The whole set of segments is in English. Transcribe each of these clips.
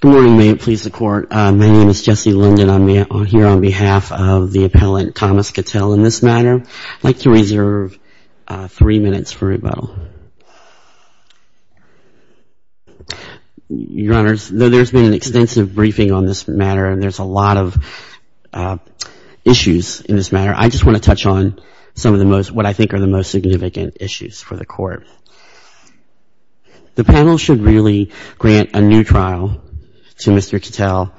Good morning. May it please the Court. My name is Jesse Linden. I'm here on behalf of the Appellant Thomas Cattell in this matter. I'd like to reserve three minutes for rebuttal. Your Honors, there's been an extensive briefing on this matter and there's a lot of issues in this matter. I just want to touch on some of the most, what I think are the most significant issues for the Court. The panel should really grant a new trial to Mr. Cattell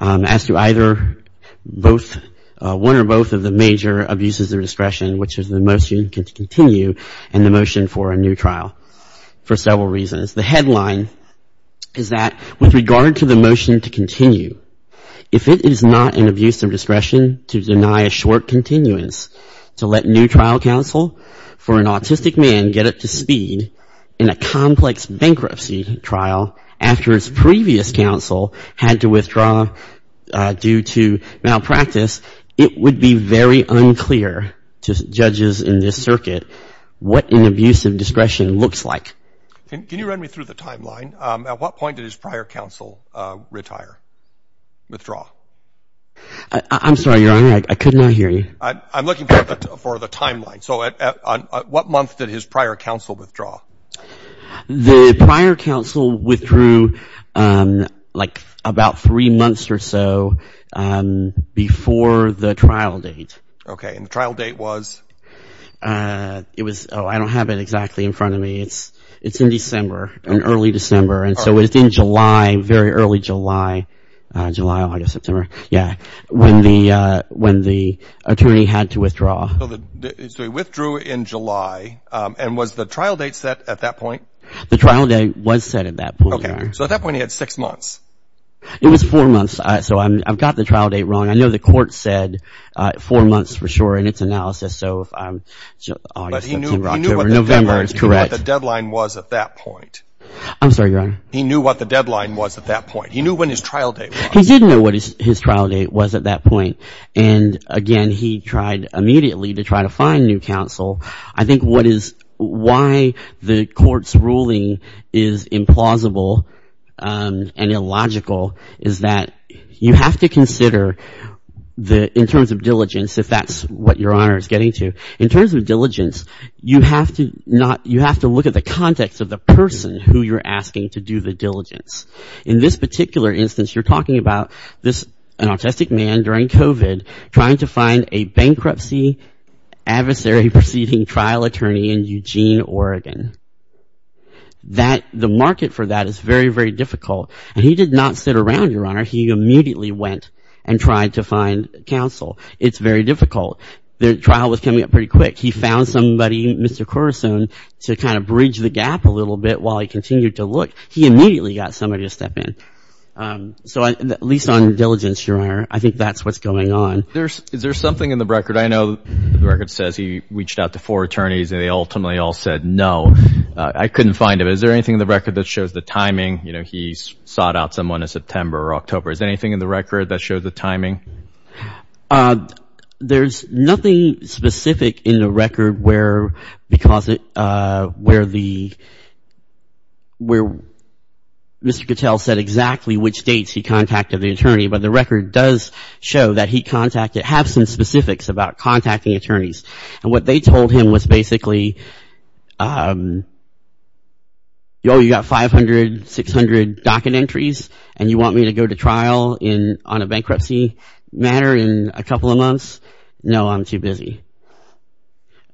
as to either both, one or both of the major abuses of discretion, which is the motion to continue and the motion for a new trial, for several reasons. The headline is that with regard to the motion to continue, if it is not an abuse of discretion to deny a short continuance to let new trial counsel for an autistic man get up to speed in a complex bankruptcy trial after his previous counsel had to withdraw due to malpractice, it would be very unclear to judges in this circuit what an abuse of discretion looks like. Can you run me through the timeline? At what point did his prior counsel retire, withdraw? I'm sorry, Your Honor. I could not hear you. I'm looking for the timeline. So at what month did his prior counsel withdraw? The prior counsel withdrew like about three months or so before the trial date. Okay. And the trial date was? It was, oh, I don't have it exactly in front of me. It's in December, in early December. And so it's in July, very early July, July, August, September. Yeah. When the attorney had to withdraw. So he withdrew in July. And was the trial date set at that point? The trial date was set at that point, Your Honor. Okay. So at that point he had six months. It was four months. So I've got the trial date wrong. I know the court said four months for sure in its analysis. So if I'm, August, September, October, November is correct. But he knew what the deadline was at that point. I'm sorry, Your Honor. He knew what the deadline was at that point. He knew when his trial date was. He didn't know what his trial date was at that point. And again, he tried immediately to try to find new counsel. I think what is, why the court's ruling is implausible and illogical is that you have to consider the, in terms of diligence, if that's what Your Honor is getting to, in terms of diligence, you have to not, you have to look at the context of the person who you're asking to do the diligence. In this particular instance, you're talking about this, an autistic man during COVID trying to find a bankruptcy adversary proceeding trial attorney in Eugene, Oregon. That, the market for that is very, very difficult. And he did not sit around, Your Honor. He immediately went and tried to find counsel. It's very difficult. The trial was coming up pretty quick. He found somebody, Mr. Corazon, to kind of bridge the gap a little bit while he continued to look. He immediately got somebody to step in. So at least on diligence, Your Honor, I think that's what's going on. Is there something in the record? I know the record says he reached out to four attorneys and they ultimately all said no. I couldn't find it. Is there anything in the record that shows the timing? You know, he sought out someone in September or October. Is there anything in the record that shows the timing? There's nothing specific in the record where, because it, where the, where Mr. Cattell said exactly which dates he contacted the attorney. But the record does show that he contacted, have some specifics about contacting attorneys. And what they told him was basically, oh, you got 500, 600 docket entries and you want me to go to trial in, on a bankruptcy matter in a couple of months? No, I'm too busy.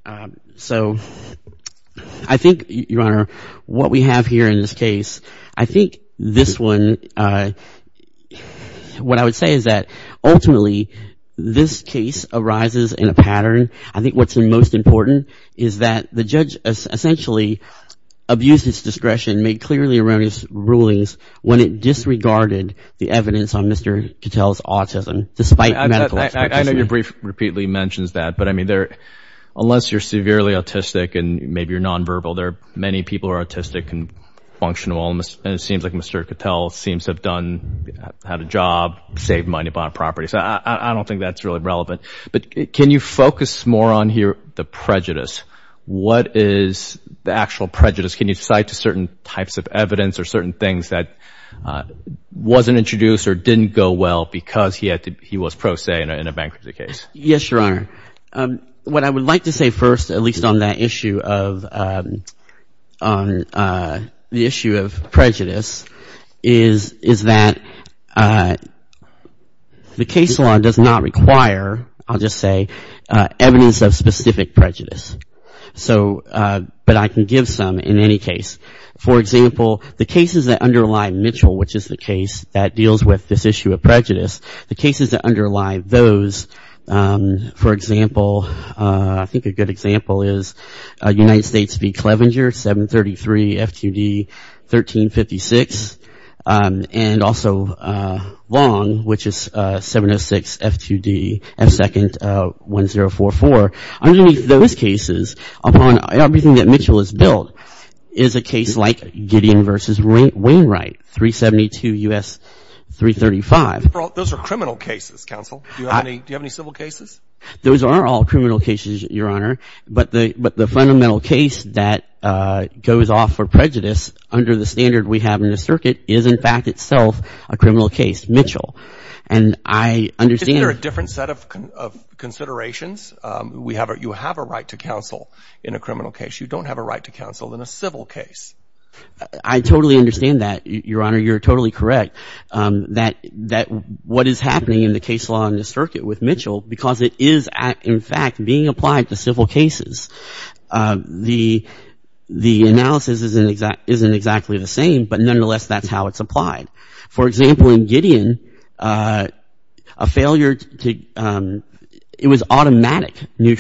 Um, so I think Your Honor, what we have here in this case, I think this one, uh, what I would say is that ultimately this case arises in a pattern. I think what's the most important is that the judge essentially abused his discretion, made clearly erroneous rulings when it disregarded the evidence on Mr. Cattell's autism, despite medical expertise. I know you're brief, repeatedly mentions that, but I mean there, unless you're severely autistic and maybe you're non-verbal, there are many people who are autistic and functional and it seems like Mr. Cattell seems to have done, had a job, saved money, bought a property. So I, I don't think that's really relevant. But can you focus more on here, the prejudice? What is the actual prejudice? Can you cite to certain types of evidence or certain things that, uh, wasn't introduced or didn't go well because he had to, he was pro se in a, in a bankruptcy case? Yes, Your Honor. Um, what I would like to say first, at least on that issue of, um, on, uh, the issue of prejudice is, is that, uh, the case law does not require, I'll just say, uh, evidence of specific prejudice. So, uh, but I can give some in any case. For example, the cases that underlie Mitchell, which is the case that deals with this issue of prejudice, the cases that underlie those, um, for example, uh, I think a good example is, uh, United States v. Clevenger, 733 FQD 1356, um, and also, uh, Long, which is, uh, 706 FQD F2nd 1044. Underneath those cases, upon everything that Mitchell has built, is a case like Gideon v. Wainwright, 372 U.S. 335. Those are criminal cases, counsel. Do you have any, do you have any civil cases? Those are all criminal cases, Your Honor, but the, but the fundamental case that, uh, goes off for prejudice under the standard we have in the circuit is in fact itself a criminal case, Mitchell. And I understand there are different set of, of considerations. Um, we have, you have a right to counsel in a criminal case. You don't have a right to counsel in a civil case. I totally understand that, Your Honor. You're totally correct, um, that, that what is happening in the case law in the circuit with Mitchell, because it is, in fact, being applied to civil cases. Um, the, the analysis isn't exactly, isn't exactly the same, but nonetheless, that's how it's applied. For example, in Gideon, uh, a failure to, um, it was automatic new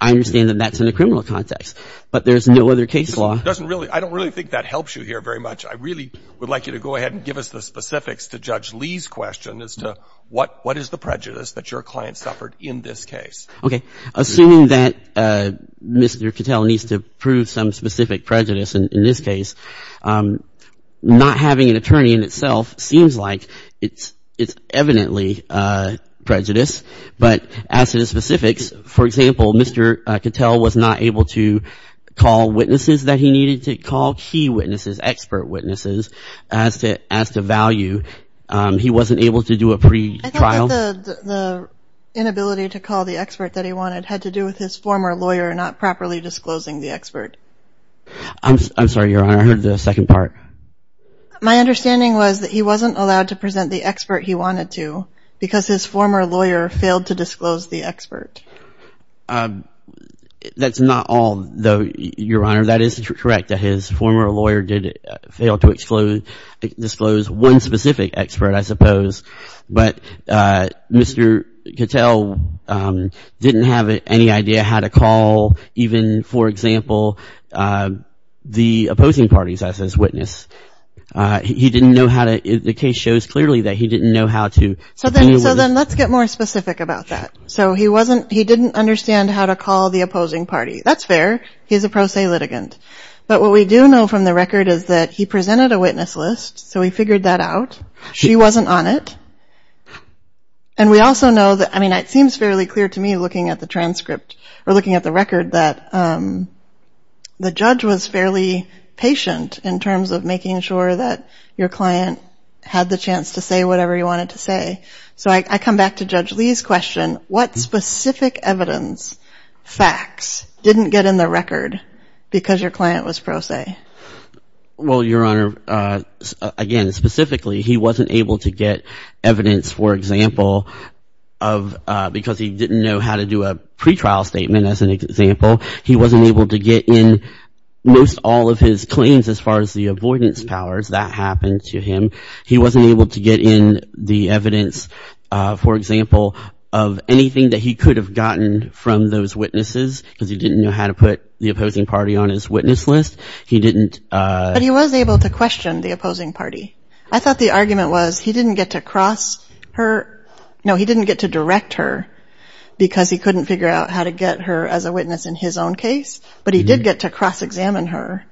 I understand that that's in a criminal context, but there's no other case law. That doesn't really, I don't really think that helps you here very much. I really would like you to go ahead and give us the specifics to Judge Lee's question as to what, what is the prejudice that your client suffered in this case. Okay. Assuming that, uh, Mr. Cattell needs to prove some specific prejudice in, in this case, um, not having an attorney in itself seems like it's, it's evidently, uh, prejudice, but as to the specifics, for example, Mr. Cattell was not able to call witnesses that he needed to call key witnesses, expert witnesses, as to, as to value. Um, he wasn't able to do a pre-trial. I think that the, the, the inability to call the expert that he wanted had to do with his former lawyer not properly disclosing the expert. I'm, I'm sorry, Your Honor, I heard the second part. My understanding was that he wasn't allowed to present the expert he wanted to because his former lawyer failed to disclose the expert. Um, that's not all though, Your Honor. That is correct that his former lawyer did fail to disclose, disclose one specific expert, I suppose, but, uh, Mr. Cattell, um, didn't have any idea how to call even, for example, uh, the opposing parties as his witness. Uh, he didn't know how to, the case shows clearly that he didn't know how to. So then, so then let's get more specific about that. So he wasn't, he didn't understand how to call the opposing party. That's fair. He's a pro se litigant. But what we do know from the record is that he presented a witness list. So we figured that out. She wasn't on it. And we also know that, I mean, it seems fairly clear to me looking at the transcript or looking at the record that, um, the judge was fairly patient in terms of making sure that your client had the chance to say whatever he wanted to say. So I come back to Judge Lee's question. What specific evidence facts didn't get in the record because your client was pro se? Well, Your Honor, uh, again, specifically, he wasn't able to get evidence, for example, of, uh, because he didn't know how to do a pretrial statement. As an example, he wasn't able to get in most all of his claims as far as the avoidance powers that happened to him. He wasn't able to get in the evidence, uh, for example, of anything that he could have gotten from those witnesses because he didn't know how to put the opposing party on his witness list. He didn't, uh, but he was able to question the opposing party. I thought the argument was he didn't get to cross her, no, he didn't get to direct her because he couldn't figure out how to get her as a witness in his own case, but he did get to cross-examine her.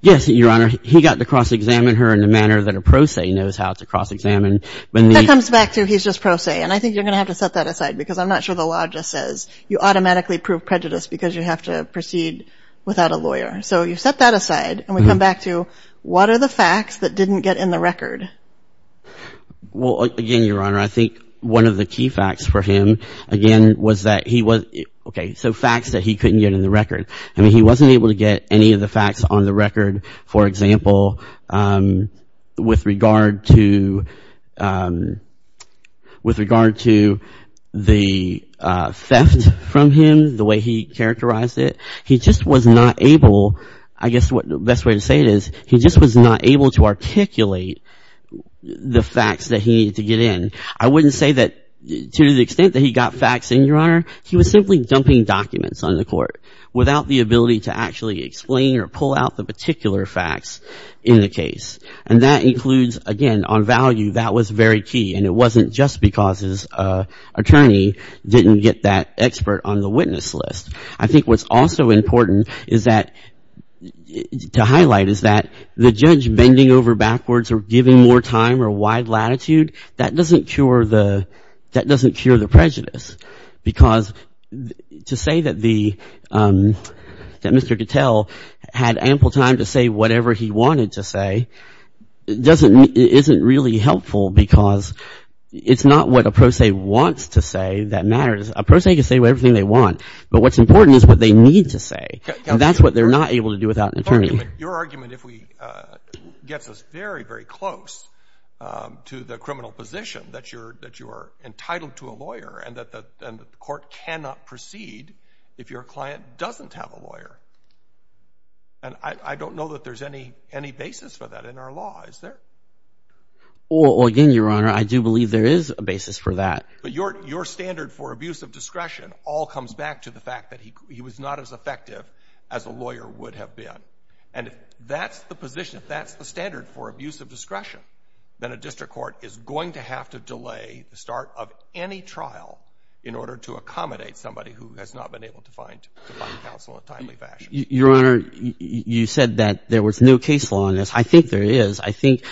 Yes, Your Honor, he got to cross-examine her in the manner that a pro se knows how to cross-examine. That comes back to he's just pro se and I think you're going to have to set that aside because I'm not sure the law just says you automatically prove prejudice because you have to proceed without a lawyer. So you set that aside and we come back to what are the facts that didn't get in the record? Well, again, Your Honor, I think one of the key facts for him again was that he was, okay, so facts that he couldn't get in the record. I mean he wasn't able to get any of the facts on the record, for example, um, with regard to, um, with regard to the, uh, theft from him, the way he characterized it. He just was not able, I guess what the best way to say it is, he just was not able to articulate the facts that he needed to get in. I wouldn't say that to the extent that he got facts in, Your Honor, he was simply dumping documents on the court without the ability to actually explain or pull out the particular facts in the case. And that includes, again, on value, that was very key and it wasn't just because his, uh, attorney didn't get that expert on the witness list. I think what's also important is that, to highlight, is that the judge bending over backwards or giving more time or wide latitude, that doesn't cure the, that doesn't cure the prejudice because to say that the, um, that Mr. Gattell had ample time to say whatever he wanted to say doesn't, isn't really helpful because it's not what a pro se wants to say that matters. A pro se can say whatever they want, but what's important is what they need to say. And that's what they're not able to do without an attorney. Your argument, if we, uh, gets us very, very close, um, to the criminal position that you're, that you are entitled to a lawyer and that the, and the court cannot proceed if your client doesn't have a lawyer. And I, I don't know that there's any, any basis for that in our law, is there? Well, again, Your Honor, I do believe there is a basis for that. But your, your standard for abuse of discretion all comes back to the fact that he, he was not as effective as a lawyer would have been. And if that's the position, if that's the standard for abuse of discretion, then a district court is going to have to delay the start of any trial in order to accommodate somebody who has not been able to find, to find counsel in a timely fashion. Your Honor, you said that there was no case law in this. I think there is. I think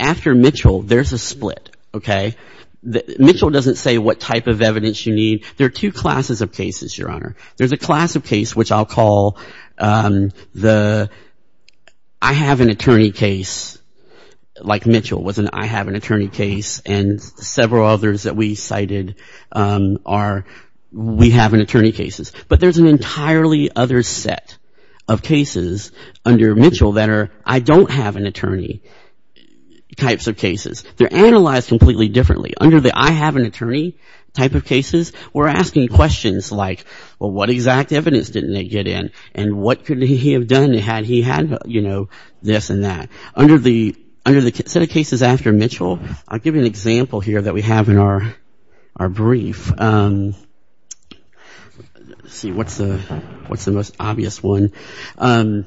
after Mitchell, there's a split, okay? Mitchell doesn't say what type of evidence you need. There are two classes of cases, Your Honor. There's a class of case, which I'll call, um, the, I have an attorney case, like Mitchell was an I have an attorney case, and several others that we cited, um, are we have an attorney cases. But there's an entirely other set of cases under Mitchell that are, I don't have an attorney types of cases. They're analyzed completely differently. Under the I have an attorney type of cases, we're asking questions like, well, what exact evidence didn't they get in? And what could he have done had he had, you know, this and that? Under the, under the set of cases after Mitchell, I'll give you an example here that we have in our, our brief. Um, let's see what's the, what's the most obvious one. Um,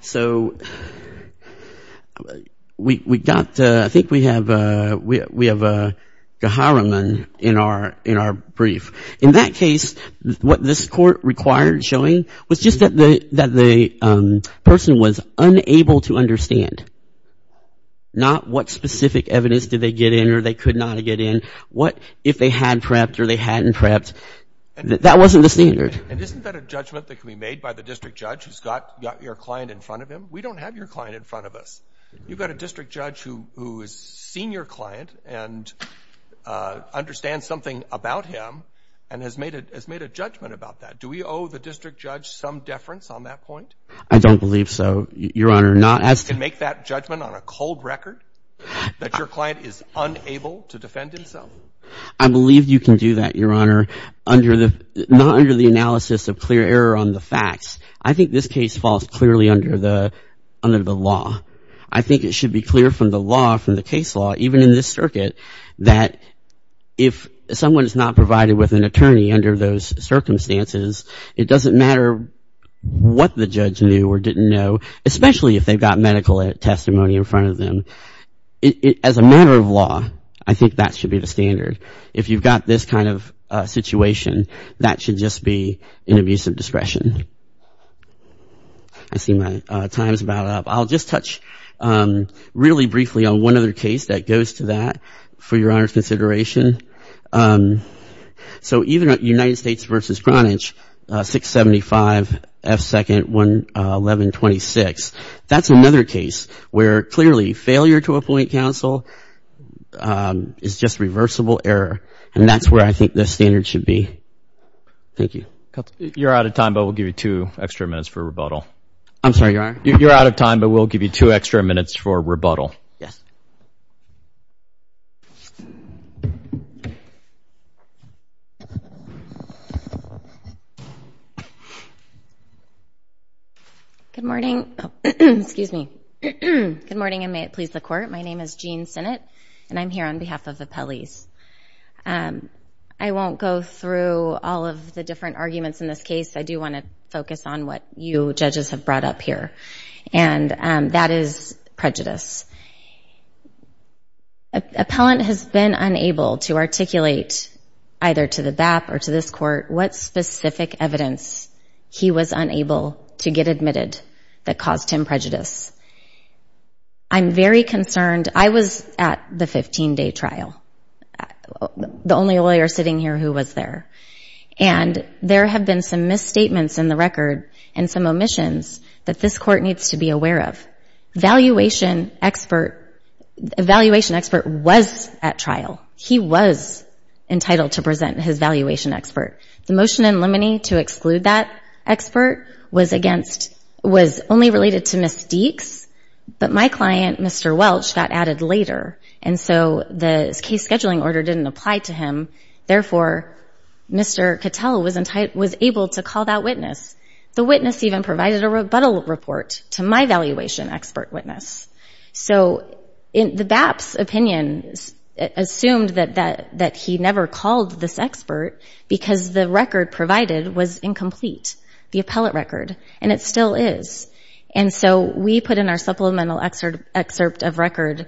so, we, we got, I think we have a, we have a Geharaman in our, in our brief. In that case, what this court required showing was just that the, the, um, person was unable to understand. Not what specific evidence did they get in or they could not get in. What if they had prepped or they hadn't prepped? That wasn't the standard. And isn't that a judgment that can be made by the district judge who's got, got your client in front of him? We don't have your client in front of us. You've got a district judge who, who has seen your client and, uh, understand something about him and has made a, has made a judgment about that. Do we owe the district judge some deference on that point? I don't believe so, Your Honor. Not as to make that judgment on a cold record that your client is unable to defend himself. I believe you can do that, Your Honor, under the, not under the analysis of clear error on the facts. I think this case falls clearly under the, under the law. I think it should be clear from the law, from the case law, even in this circuit, that if someone is not provided with an attorney under those circumstances, it doesn't matter what the judge knew or didn't know, especially if they've got medical testimony in front of them. As a matter of law, I think that should be the standard. If you've got this kind of situation, that should just be an abuse of discretion. I see my time's about up. I'll just touch really briefly on one other case that goes to that for Your Honor's consideration. Um, so even at United States versus Greenwich, 675 F 2nd 1126, that's another case where clearly failure to appoint counsel, um, is just reversible error. And that's where I think the standard should be. Thank you. You're out of time, but we'll give you two extra minutes for rebuttal. I'm sorry, Your Honor? You're out of time, but we'll give you two extra minutes for rebuttal. Yes. Good morning. Excuse me. Good morning, and may it please the court. My name is Jean Sinnott, and I'm here on behalf of the Pelley's. I won't go through all of the different arguments in this case. I do want to focus on what judges have brought up here, and that is prejudice. Appellant has been unable to articulate either to the BAP or to this court what specific evidence he was unable to get admitted that caused him prejudice. I'm very concerned. I was at the 15-day trial, the only lawyer sitting here who was there, and there have been some misstatements in the record and some omissions that this court needs to be aware of. Valuation expert, valuation expert was at trial. He was entitled to present his valuation expert. The motion in limine to exclude that expert was against, was only related to Ms. Deeks, but my client, Mr. Welch, got added later, and so the case scheduling order didn't apply to him. Therefore, Mr. Cattell was able to call that witness. The witness even provided a rebuttal report to my valuation expert witness. So the BAP's opinion assumed that he never called this expert because the record provided was incomplete, the appellate record, and it still is. And so we put in our supplemental excerpt of record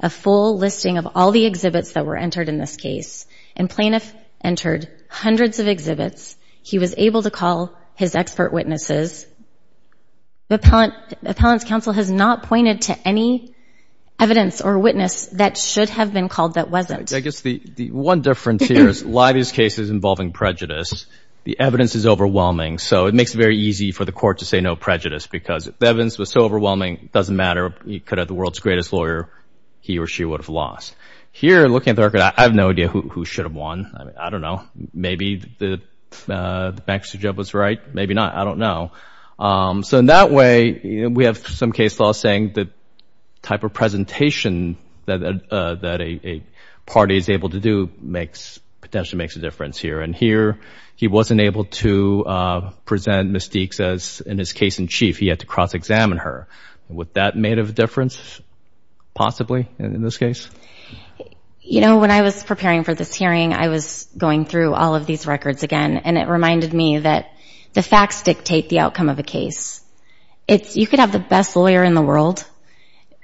a full listing of all the exhibits that were entered in this case, and plaintiff entered hundreds of exhibits. He was able to call his expert witnesses. The appellant's counsel has not pointed to any evidence or witness that should have been called that wasn't. I guess the one difference here is a lot of these cases involving prejudice, the evidence is overwhelming, so it makes it very easy for the court to say no prejudice because the evidence was so overwhelming, doesn't matter, he could have the world's greatest lawyer, he or she would have lost. Here, looking at the record, I have no idea who should have won. I mean, I don't know, maybe the bank's job was right, maybe not, I don't know. So in that way, we have some case law saying the type of presentation that a party is able to do makes, potentially makes a difference here. And here, he wasn't able to present Ms. Deeks as, in his case in chief, he had to cross-examine her. Would that have made a difference, possibly, in this case? You know, when I was preparing for this hearing, I was going through all of these records again, and it reminded me that the facts dictate the outcome of a case. It's, you could have the best lawyer in the world,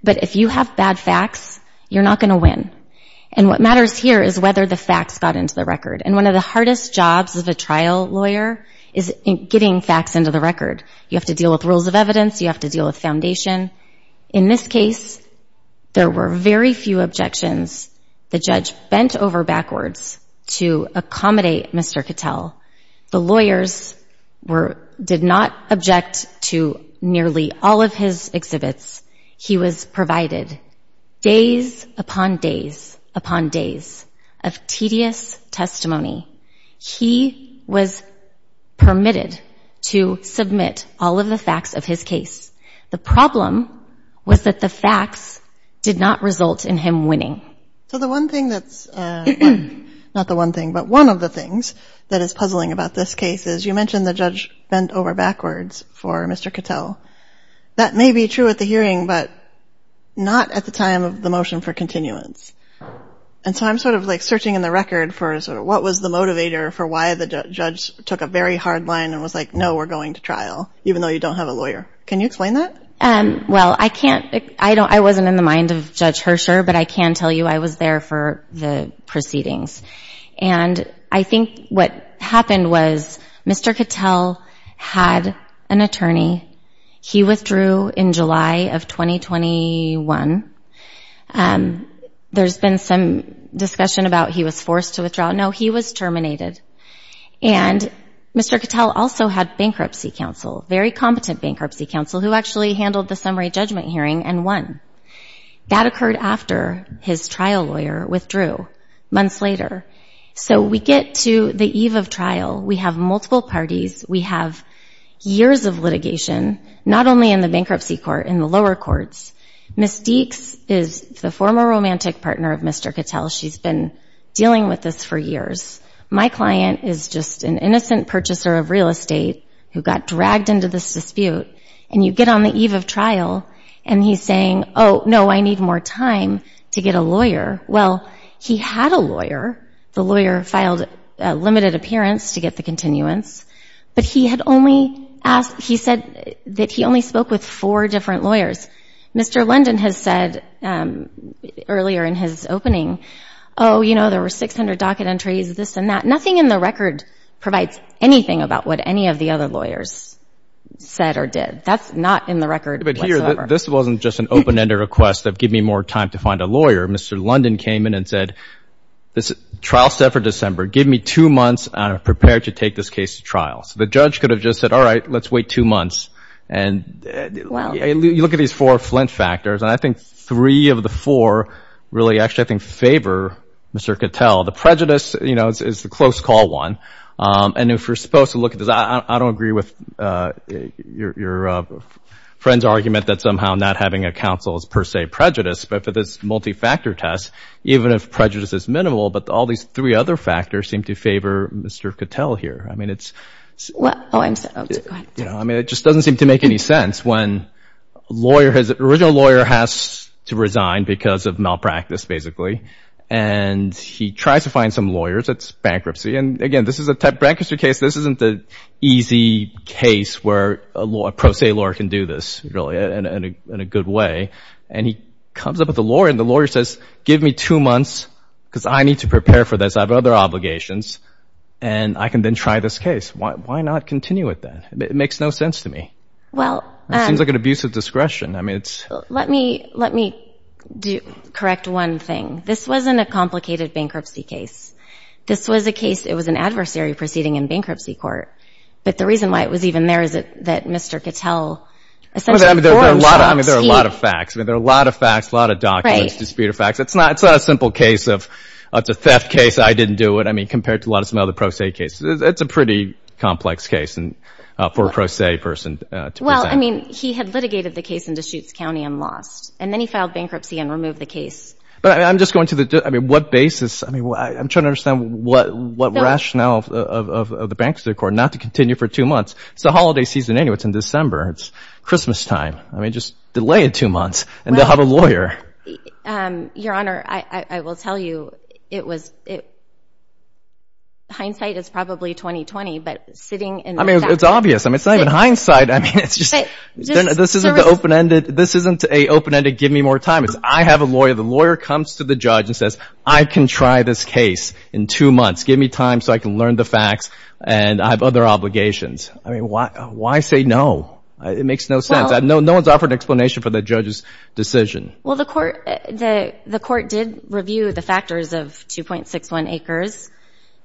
but if you have bad facts, you're not going to win. And what matters here is whether the facts got into the record. And one of the hardest jobs of a trial lawyer is getting facts into the record. You have to deal with rules of evidence, you have to deal with facts. In this case, there were very few objections. The judge bent over backwards to accommodate Mr. Cattell. The lawyers were, did not object to nearly all of his exhibits. He was provided days upon days upon days of tedious testimony. He was permitted to submit all of the was that the facts did not result in him winning. So the one thing that's, not the one thing, but one of the things that is puzzling about this case is you mentioned the judge bent over backwards for Mr. Cattell. That may be true at the hearing, but not at the time of the motion for continuance. And so I'm sort of like searching in the record for what was the motivator for why the judge took a very hard line and was like, no, we're going to trial, even though you don't have a lawyer. Can you explain that? Well, I can't, I don't, I wasn't in the mind of Judge Hersher, but I can tell you I was there for the proceedings. And I think what happened was Mr. Cattell had an attorney. He withdrew in July of 2021. There's been some discussion about he was forced to withdraw. No, he was terminated. And Mr. Cattell also had bankruptcy counsel, very competent bankruptcy counsel, who actually handled the summary judgment hearing and won. That occurred after his trial lawyer withdrew months later. So we get to the eve of trial, we have multiple parties, we have years of litigation, not only in the bankruptcy court, in the lower courts. Ms. Deeks is the former romantic partner of Mr. Cattell. She's been dealing with this for years. My husband is a real estate, who got dragged into this dispute. And you get on the eve of trial, and he's saying, oh, no, I need more time to get a lawyer. Well, he had a lawyer. The lawyer filed a limited appearance to get the continuance. But he had only asked, he said that he only spoke with four different lawyers. Mr. London has said earlier in his opening, oh, you know, there were 600 docket entries, this and that. Nothing in the record provides anything about what any of the other lawyers said or did. That's not in the record. But here, this wasn't just an open ended request of give me more time to find a lawyer. Mr. London came in and said, this trial set for December, give me two months, and I'm prepared to take this case to trial. So the judge could have just said, all right, let's wait two months. And you look at these four Flint factors, and I think three of the four really actually, I think, favor Mr. Cattell. The prejudice is the close call one. And if you're supposed to look at this, I don't agree with your friend's argument that somehow not having a counsel is per se prejudice. But for this multi-factor test, even if prejudice is minimal, but all these three other factors seem to favor Mr. Cattell here. I mean, it just doesn't seem to make any sense when an original lawyer has to resign because of malpractice, basically. And he tries to find some lawyers. It's bankruptcy. And again, this is a bankruptcy case. This isn't the easy case where a pro se lawyer can do this, really, in a good way. And he comes up with a lawyer, and the lawyer says, give me two months, because I need to prepare for this. I have other obligations. And I can then try this case. Why not continue with that? It makes no sense to me. Well, It seems like an abuse of discretion. I mean, it's Let me, let me correct one thing. This wasn't a complicated bankruptcy case. This was a case, it was an adversary proceeding in bankruptcy court. But the reason why it was even there is that Mr. Cattell, essentially forged I mean, there are a lot of facts. I mean, there are a lot of facts, a lot of documents, disputed facts. It's not a simple case of, it's a theft case, I didn't do it. I mean, compared to a lot of some other pro se cases. It's a pretty complex case for a pro se person to present. Well, I mean, he had litigated the case in Deschutes County and lost. And then he filed bankruptcy and removed the case. But I'm just going to the, I mean, what basis? I mean, I'm trying to understand what rationale of the bankruptcy court not to continue for two months. It's the holiday season anyway, it's in December, it's Christmas time. I mean, just delay it two months, and they'll have a lawyer. Your Honor, I will tell you, it was, it, hindsight is probably 2020. But sitting in It's obvious. I mean, it's not even hindsight. I mean, it's just, this isn't the open ended, this isn't a open ended, give me more time. It's I have a lawyer, the lawyer comes to the judge and says, I can try this case in two months, give me time so I can learn the facts. And I have other obligations. I mean, why, why say no, it makes no sense. I know no one's offered explanation for the judge's decision. Well, the court, the court did review the factors of 2.61 acres,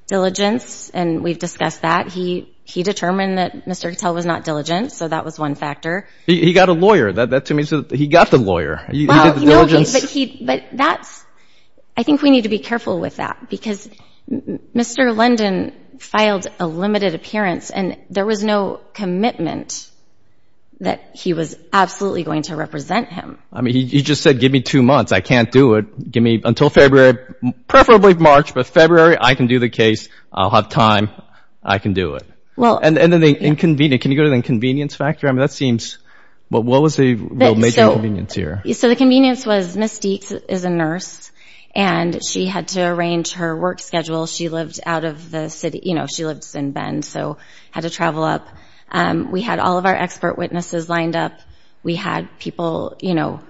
diligence, and we've discussed that he, he determined that Mr. Cattell was not diligent. So that was one factor. He got a lawyer that that to me. So he got the lawyer. But that's, I think we need to be careful with that. Because Mr. London filed a limited appearance, and there was no commitment that he was absolutely going to represent him. I mean, he just said, give me two months, I can't do it. Give me until February, preferably March, but February, I can do the case, I'll have time, I can do it. Well, and then the inconvenience, can you go to the inconvenience factor? I mean, that seems, what was the major inconvenience here? So the convenience was, Ms. Deeks is a nurse, and she had to arrange her work schedule. She lived out of the city, you know, she lives in Bend, so had to travel up. We had all of our expert witnesses lined up. We had people, you know,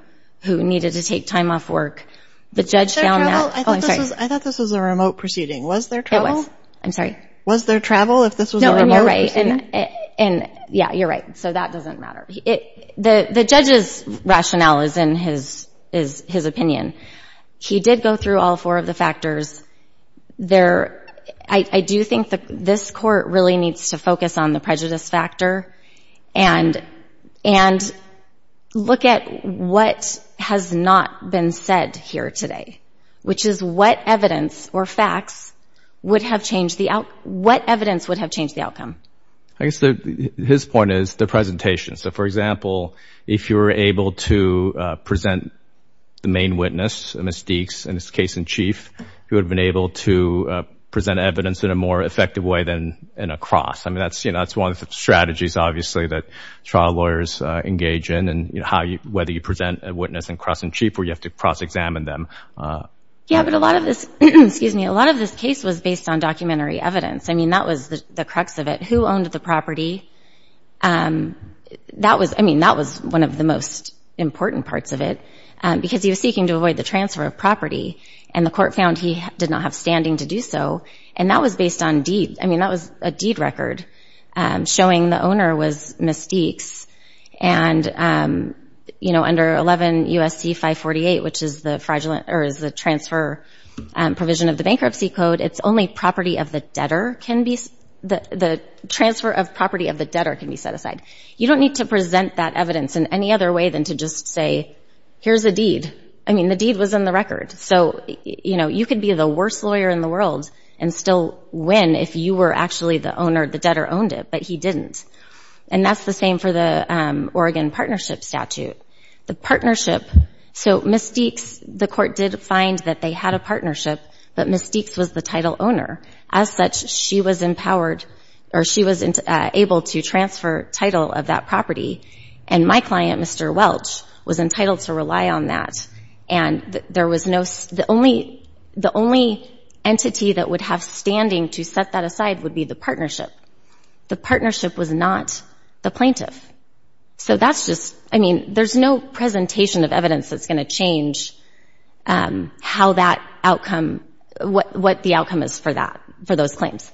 who needed to take time off work. The judge found that, I thought this was a remote proceeding. Was there travel? I'm sorry. Was there travel if this was a remote proceeding? And, yeah, you're right. So that doesn't matter. The judge's rationale is in his opinion. He did go through all four of the factors. I do think this court really needs to focus on the prejudice factor and look at what has not been said here today, which is what evidence or facts would have changed the outcome? What evidence would have changed the outcome? I guess his point is the presentation. So, for example, if you were able to present the main witness, Ms. Deeks, in this case in chief, you would have been able to present evidence in a more effective way than in a cross. I mean, that's, you know, that's one of the strategies, obviously, that trial lawyers engage in and how you, whether you present a witness in cross and chief or you have to cross-examine them. Yeah, but a lot of this, excuse me, a lot of this case was based on documentary evidence. I mean, that was the crux of it. Who owned the property? That was, I mean, that was one of the most important parts of it, because he was seeking to avoid the transfer of property. And the court found he did not have standing to do so. And that was based on deed. I mean, that was a deed or is the transfer provision of the bankruptcy code. It's only property of the debtor can be, the transfer of property of the debtor can be set aside. You don't need to present that evidence in any other way than to just say, here's a deed. I mean, the deed was in the record. So, you know, you could be the worst lawyer in the world and still win if you were actually the owner, the debtor owned it, but he didn't. And that's the same for the Oregon partnership statute. The partnership, so Ms. Deeks, the court did find that they had a partnership, but Ms. Deeks was the title owner. As such, she was empowered or she was able to transfer title of that property. And my client, Mr. Welch, was entitled to rely on that. And there was no, the only, the only entity that would have standing to set that aside would be the partnership. The partnership was not the plaintiff. So that's just, I mean, there's no presentation of evidence that's going to change how that outcome, what the outcome is for that, for those claims.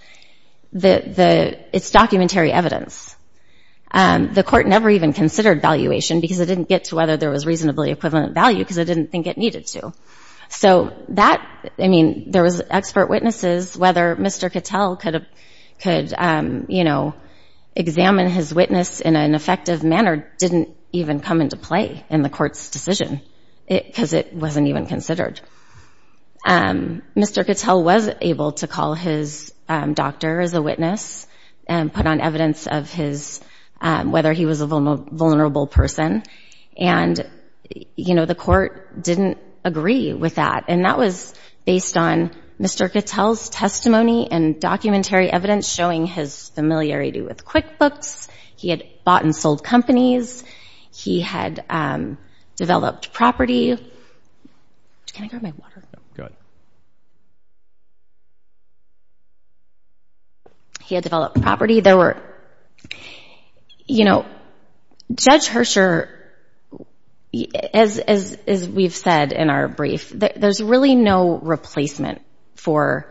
It's documentary evidence. The court never even considered valuation because it didn't get to whether there was reasonably equivalent value because it didn't think it needed to. So that, I mean, there was expert witnesses. Whether Mr. Cattell could, you know, examine his witness in an effective manner didn't even come into play in the court's decision. It, because it wasn't even considered. Mr. Cattell was able to call his doctor as a witness and put on evidence of his, whether he was a vulnerable person. And, you know, the court didn't agree with that. And that was based on Mr. Cattell's testimony and documentary evidence showing his familiarity with QuickBooks. He had bought and sold companies. He had developed property. He had developed property. There were, you know, Judge Herscher, as we've said in our brief, there's really no replacement for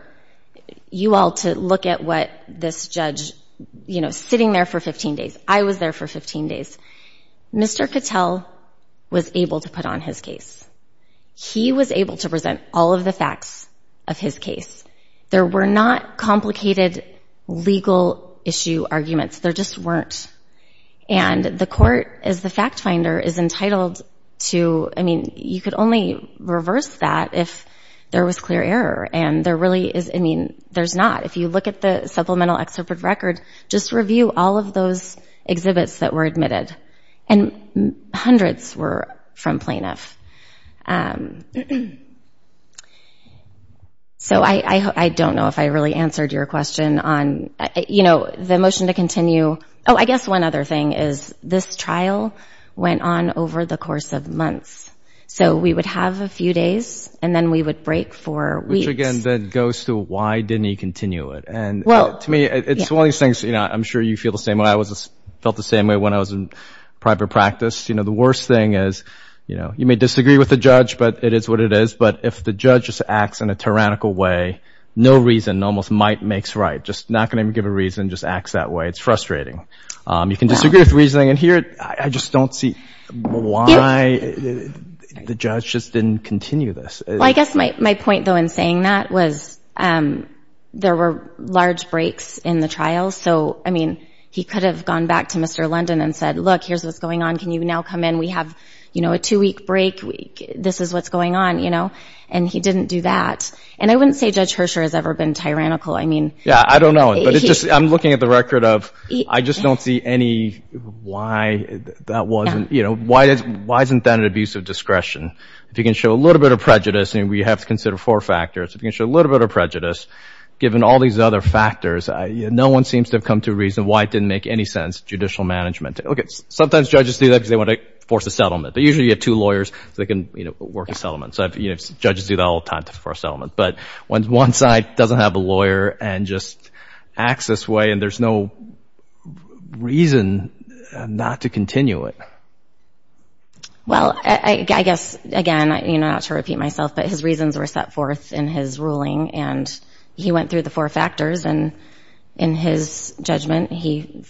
you all to look at what this judge, you know, sitting there for 15 days. I was there for 15 days. Mr. Cattell was able to put on his case. He was able to present all of the facts of his case. There were not complicated legal issue arguments. There just weren't. And the court, as the fact finder, is entitled to, I mean, you could only reverse that if there was clear error. And there really is, I mean, there's not. If you look at the supplemental excerpt of record, just review all of those exhibits that were admitted. And So the motion to continue. Oh, I guess one other thing is this trial went on over the course of months. So we would have a few days and then we would break for weeks. Which again, then goes to why didn't he continue it? And to me, it's one of these things, you know, I'm sure you feel the same way I felt the same way when I was in private practice. You know, the worst thing is, you know, you may disagree with the judge, but it is what it is. But if the judge just acts in a tyrannical way, no reason, almost might makes right, just not going to give a reason, just acts that way. It's frustrating. You can disagree with reasoning. And here I just don't see why the judge just didn't continue this. I guess my point, though, in saying that was there were large breaks in the trial. So, I mean, he could have gone back to Mr. London and said, look, here's what's going on. Can you now come in? We have, you know, a two week break. This is what's going on, you know, and he didn't do that. And I wouldn't say Judge Hersher has ever been tyrannical. I mean, yeah, I don't know. I'm looking at the record of I just don't see any why that wasn't, you know, why isn't that an abuse of discretion? If you can show a little bit of prejudice, and we have to consider four factors, if you can show a little bit of prejudice, given all these other factors, no one seems to have come to a reason why it didn't make any sense, judicial management. Sometimes judges do that because they want to force a settlement. But usually you have two lawyers, so they can, you know, work a settlement. So judges do that all the time to force a settlement. But when one side doesn't have a lawyer and just acts this way, and there's no reason not to continue it. Well, I guess, again, you know, not to repeat myself, but his reasons were set forth in his ruling. And he went through the four factors. And in his judgment, he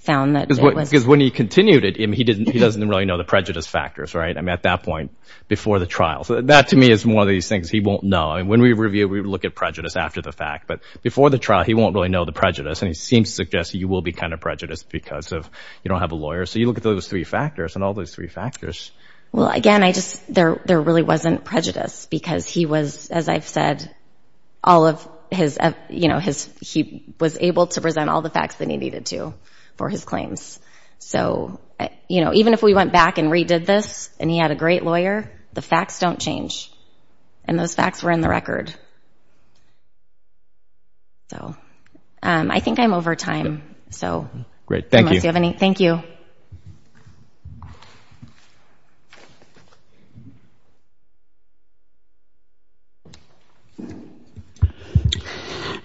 found that it was... Because when he continued it, he doesn't really know the prejudice factors, right? I mean, at that point, before the trial. So that, to me, is one of these things he won't know. And when we review, we look at prejudice after the fact. But before the trial, he won't really know the prejudice. And he seems to suggest you will be kind of prejudiced because of you don't have a lawyer. So you look at those three factors and all those three factors. Well, again, I just, there really wasn't prejudice because he was, as I've said, all of his, you know, his, he was able to present all the facts that he needed to for his claims. So, you know, even if we went back and redid this, and he had a great lawyer, the facts don't change. And those facts were in the record. So I think I'm over time. So... Great. Thank you. Unless you have any. Thank you.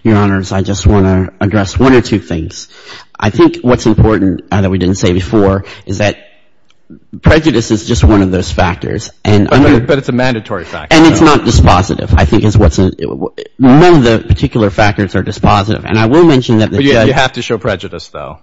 Your Honors, I just want to address one or two things. I think what's important, that we didn't say before, is that prejudice is just one of those factors. But it's a mandatory factor. And it's not dispositive. I think it's what's, none of the particular factors are dispositive. And I will mention that... You have to show prejudice, though.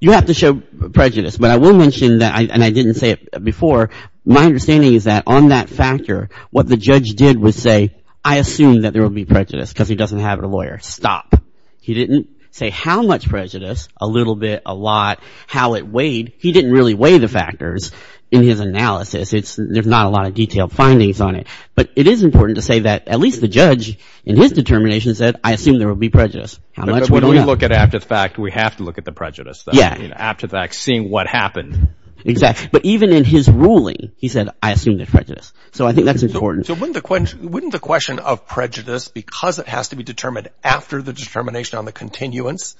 You have to show prejudice. But I will mention that, and I didn't say it before, my understanding is that on that factor, what the judge did was say, I assume that there will be prejudice because he doesn't have a lawyer. Stop. He didn't say how much prejudice, a little bit, a lot, how it weighed. He didn't really weigh the factors in his analysis. It's, there's not a lot of detailed findings on it. But it is important to say that at least the judge, in his determination, said, I assume there will be prejudice. How much? When we look at after the fact, we have to look at the prejudice, though. After the fact, seeing what happened. Exactly. But even in his ruling, he said, I assume there's prejudice. So I think that's important. So wouldn't the question of prejudice, because it has to be determined after the determination on the continuance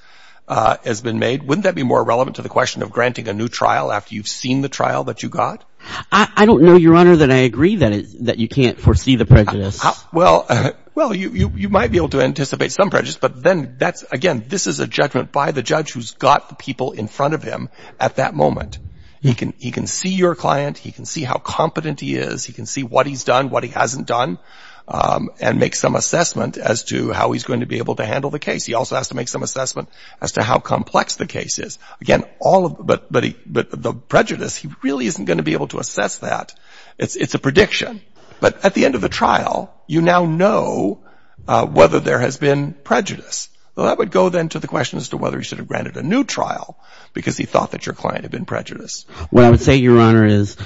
has been made, wouldn't that be more relevant to the question of granting a new trial after you've seen the trial that you got? I don't know, Your Honor, that I agree that you can't foresee the prejudice. Well, you might be able to anticipate some prejudice, but then that's, again, this is a judgment by the judge who's got the people in front of him at that moment. He can see your client. He can see how competent he is. He can see what he's done, what he hasn't done, and make some assessment as to how he's going to be able to handle the case. He also has to make some assessment as to how complex the case is. Again, but the prejudice, he really isn't going to be able to assess that. It's a prediction. But at the end of the trial, you now know whether there has been prejudice. Well, that would go then to the question as to whether he should have granted a new trial because he thought that your client had been prejudiced. What I would say, Your Honor, is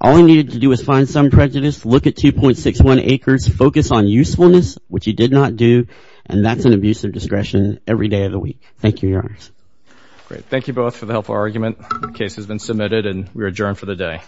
all he needed to do was find some prejudice, look at 2.61 acres, focus on usefulness, which he did not do, and that's an abuse of discretion every day of the week. Thank you, Your Honor. Great. Thank you both for the helpful argument. The case has been submitted and we are adjourned for the day.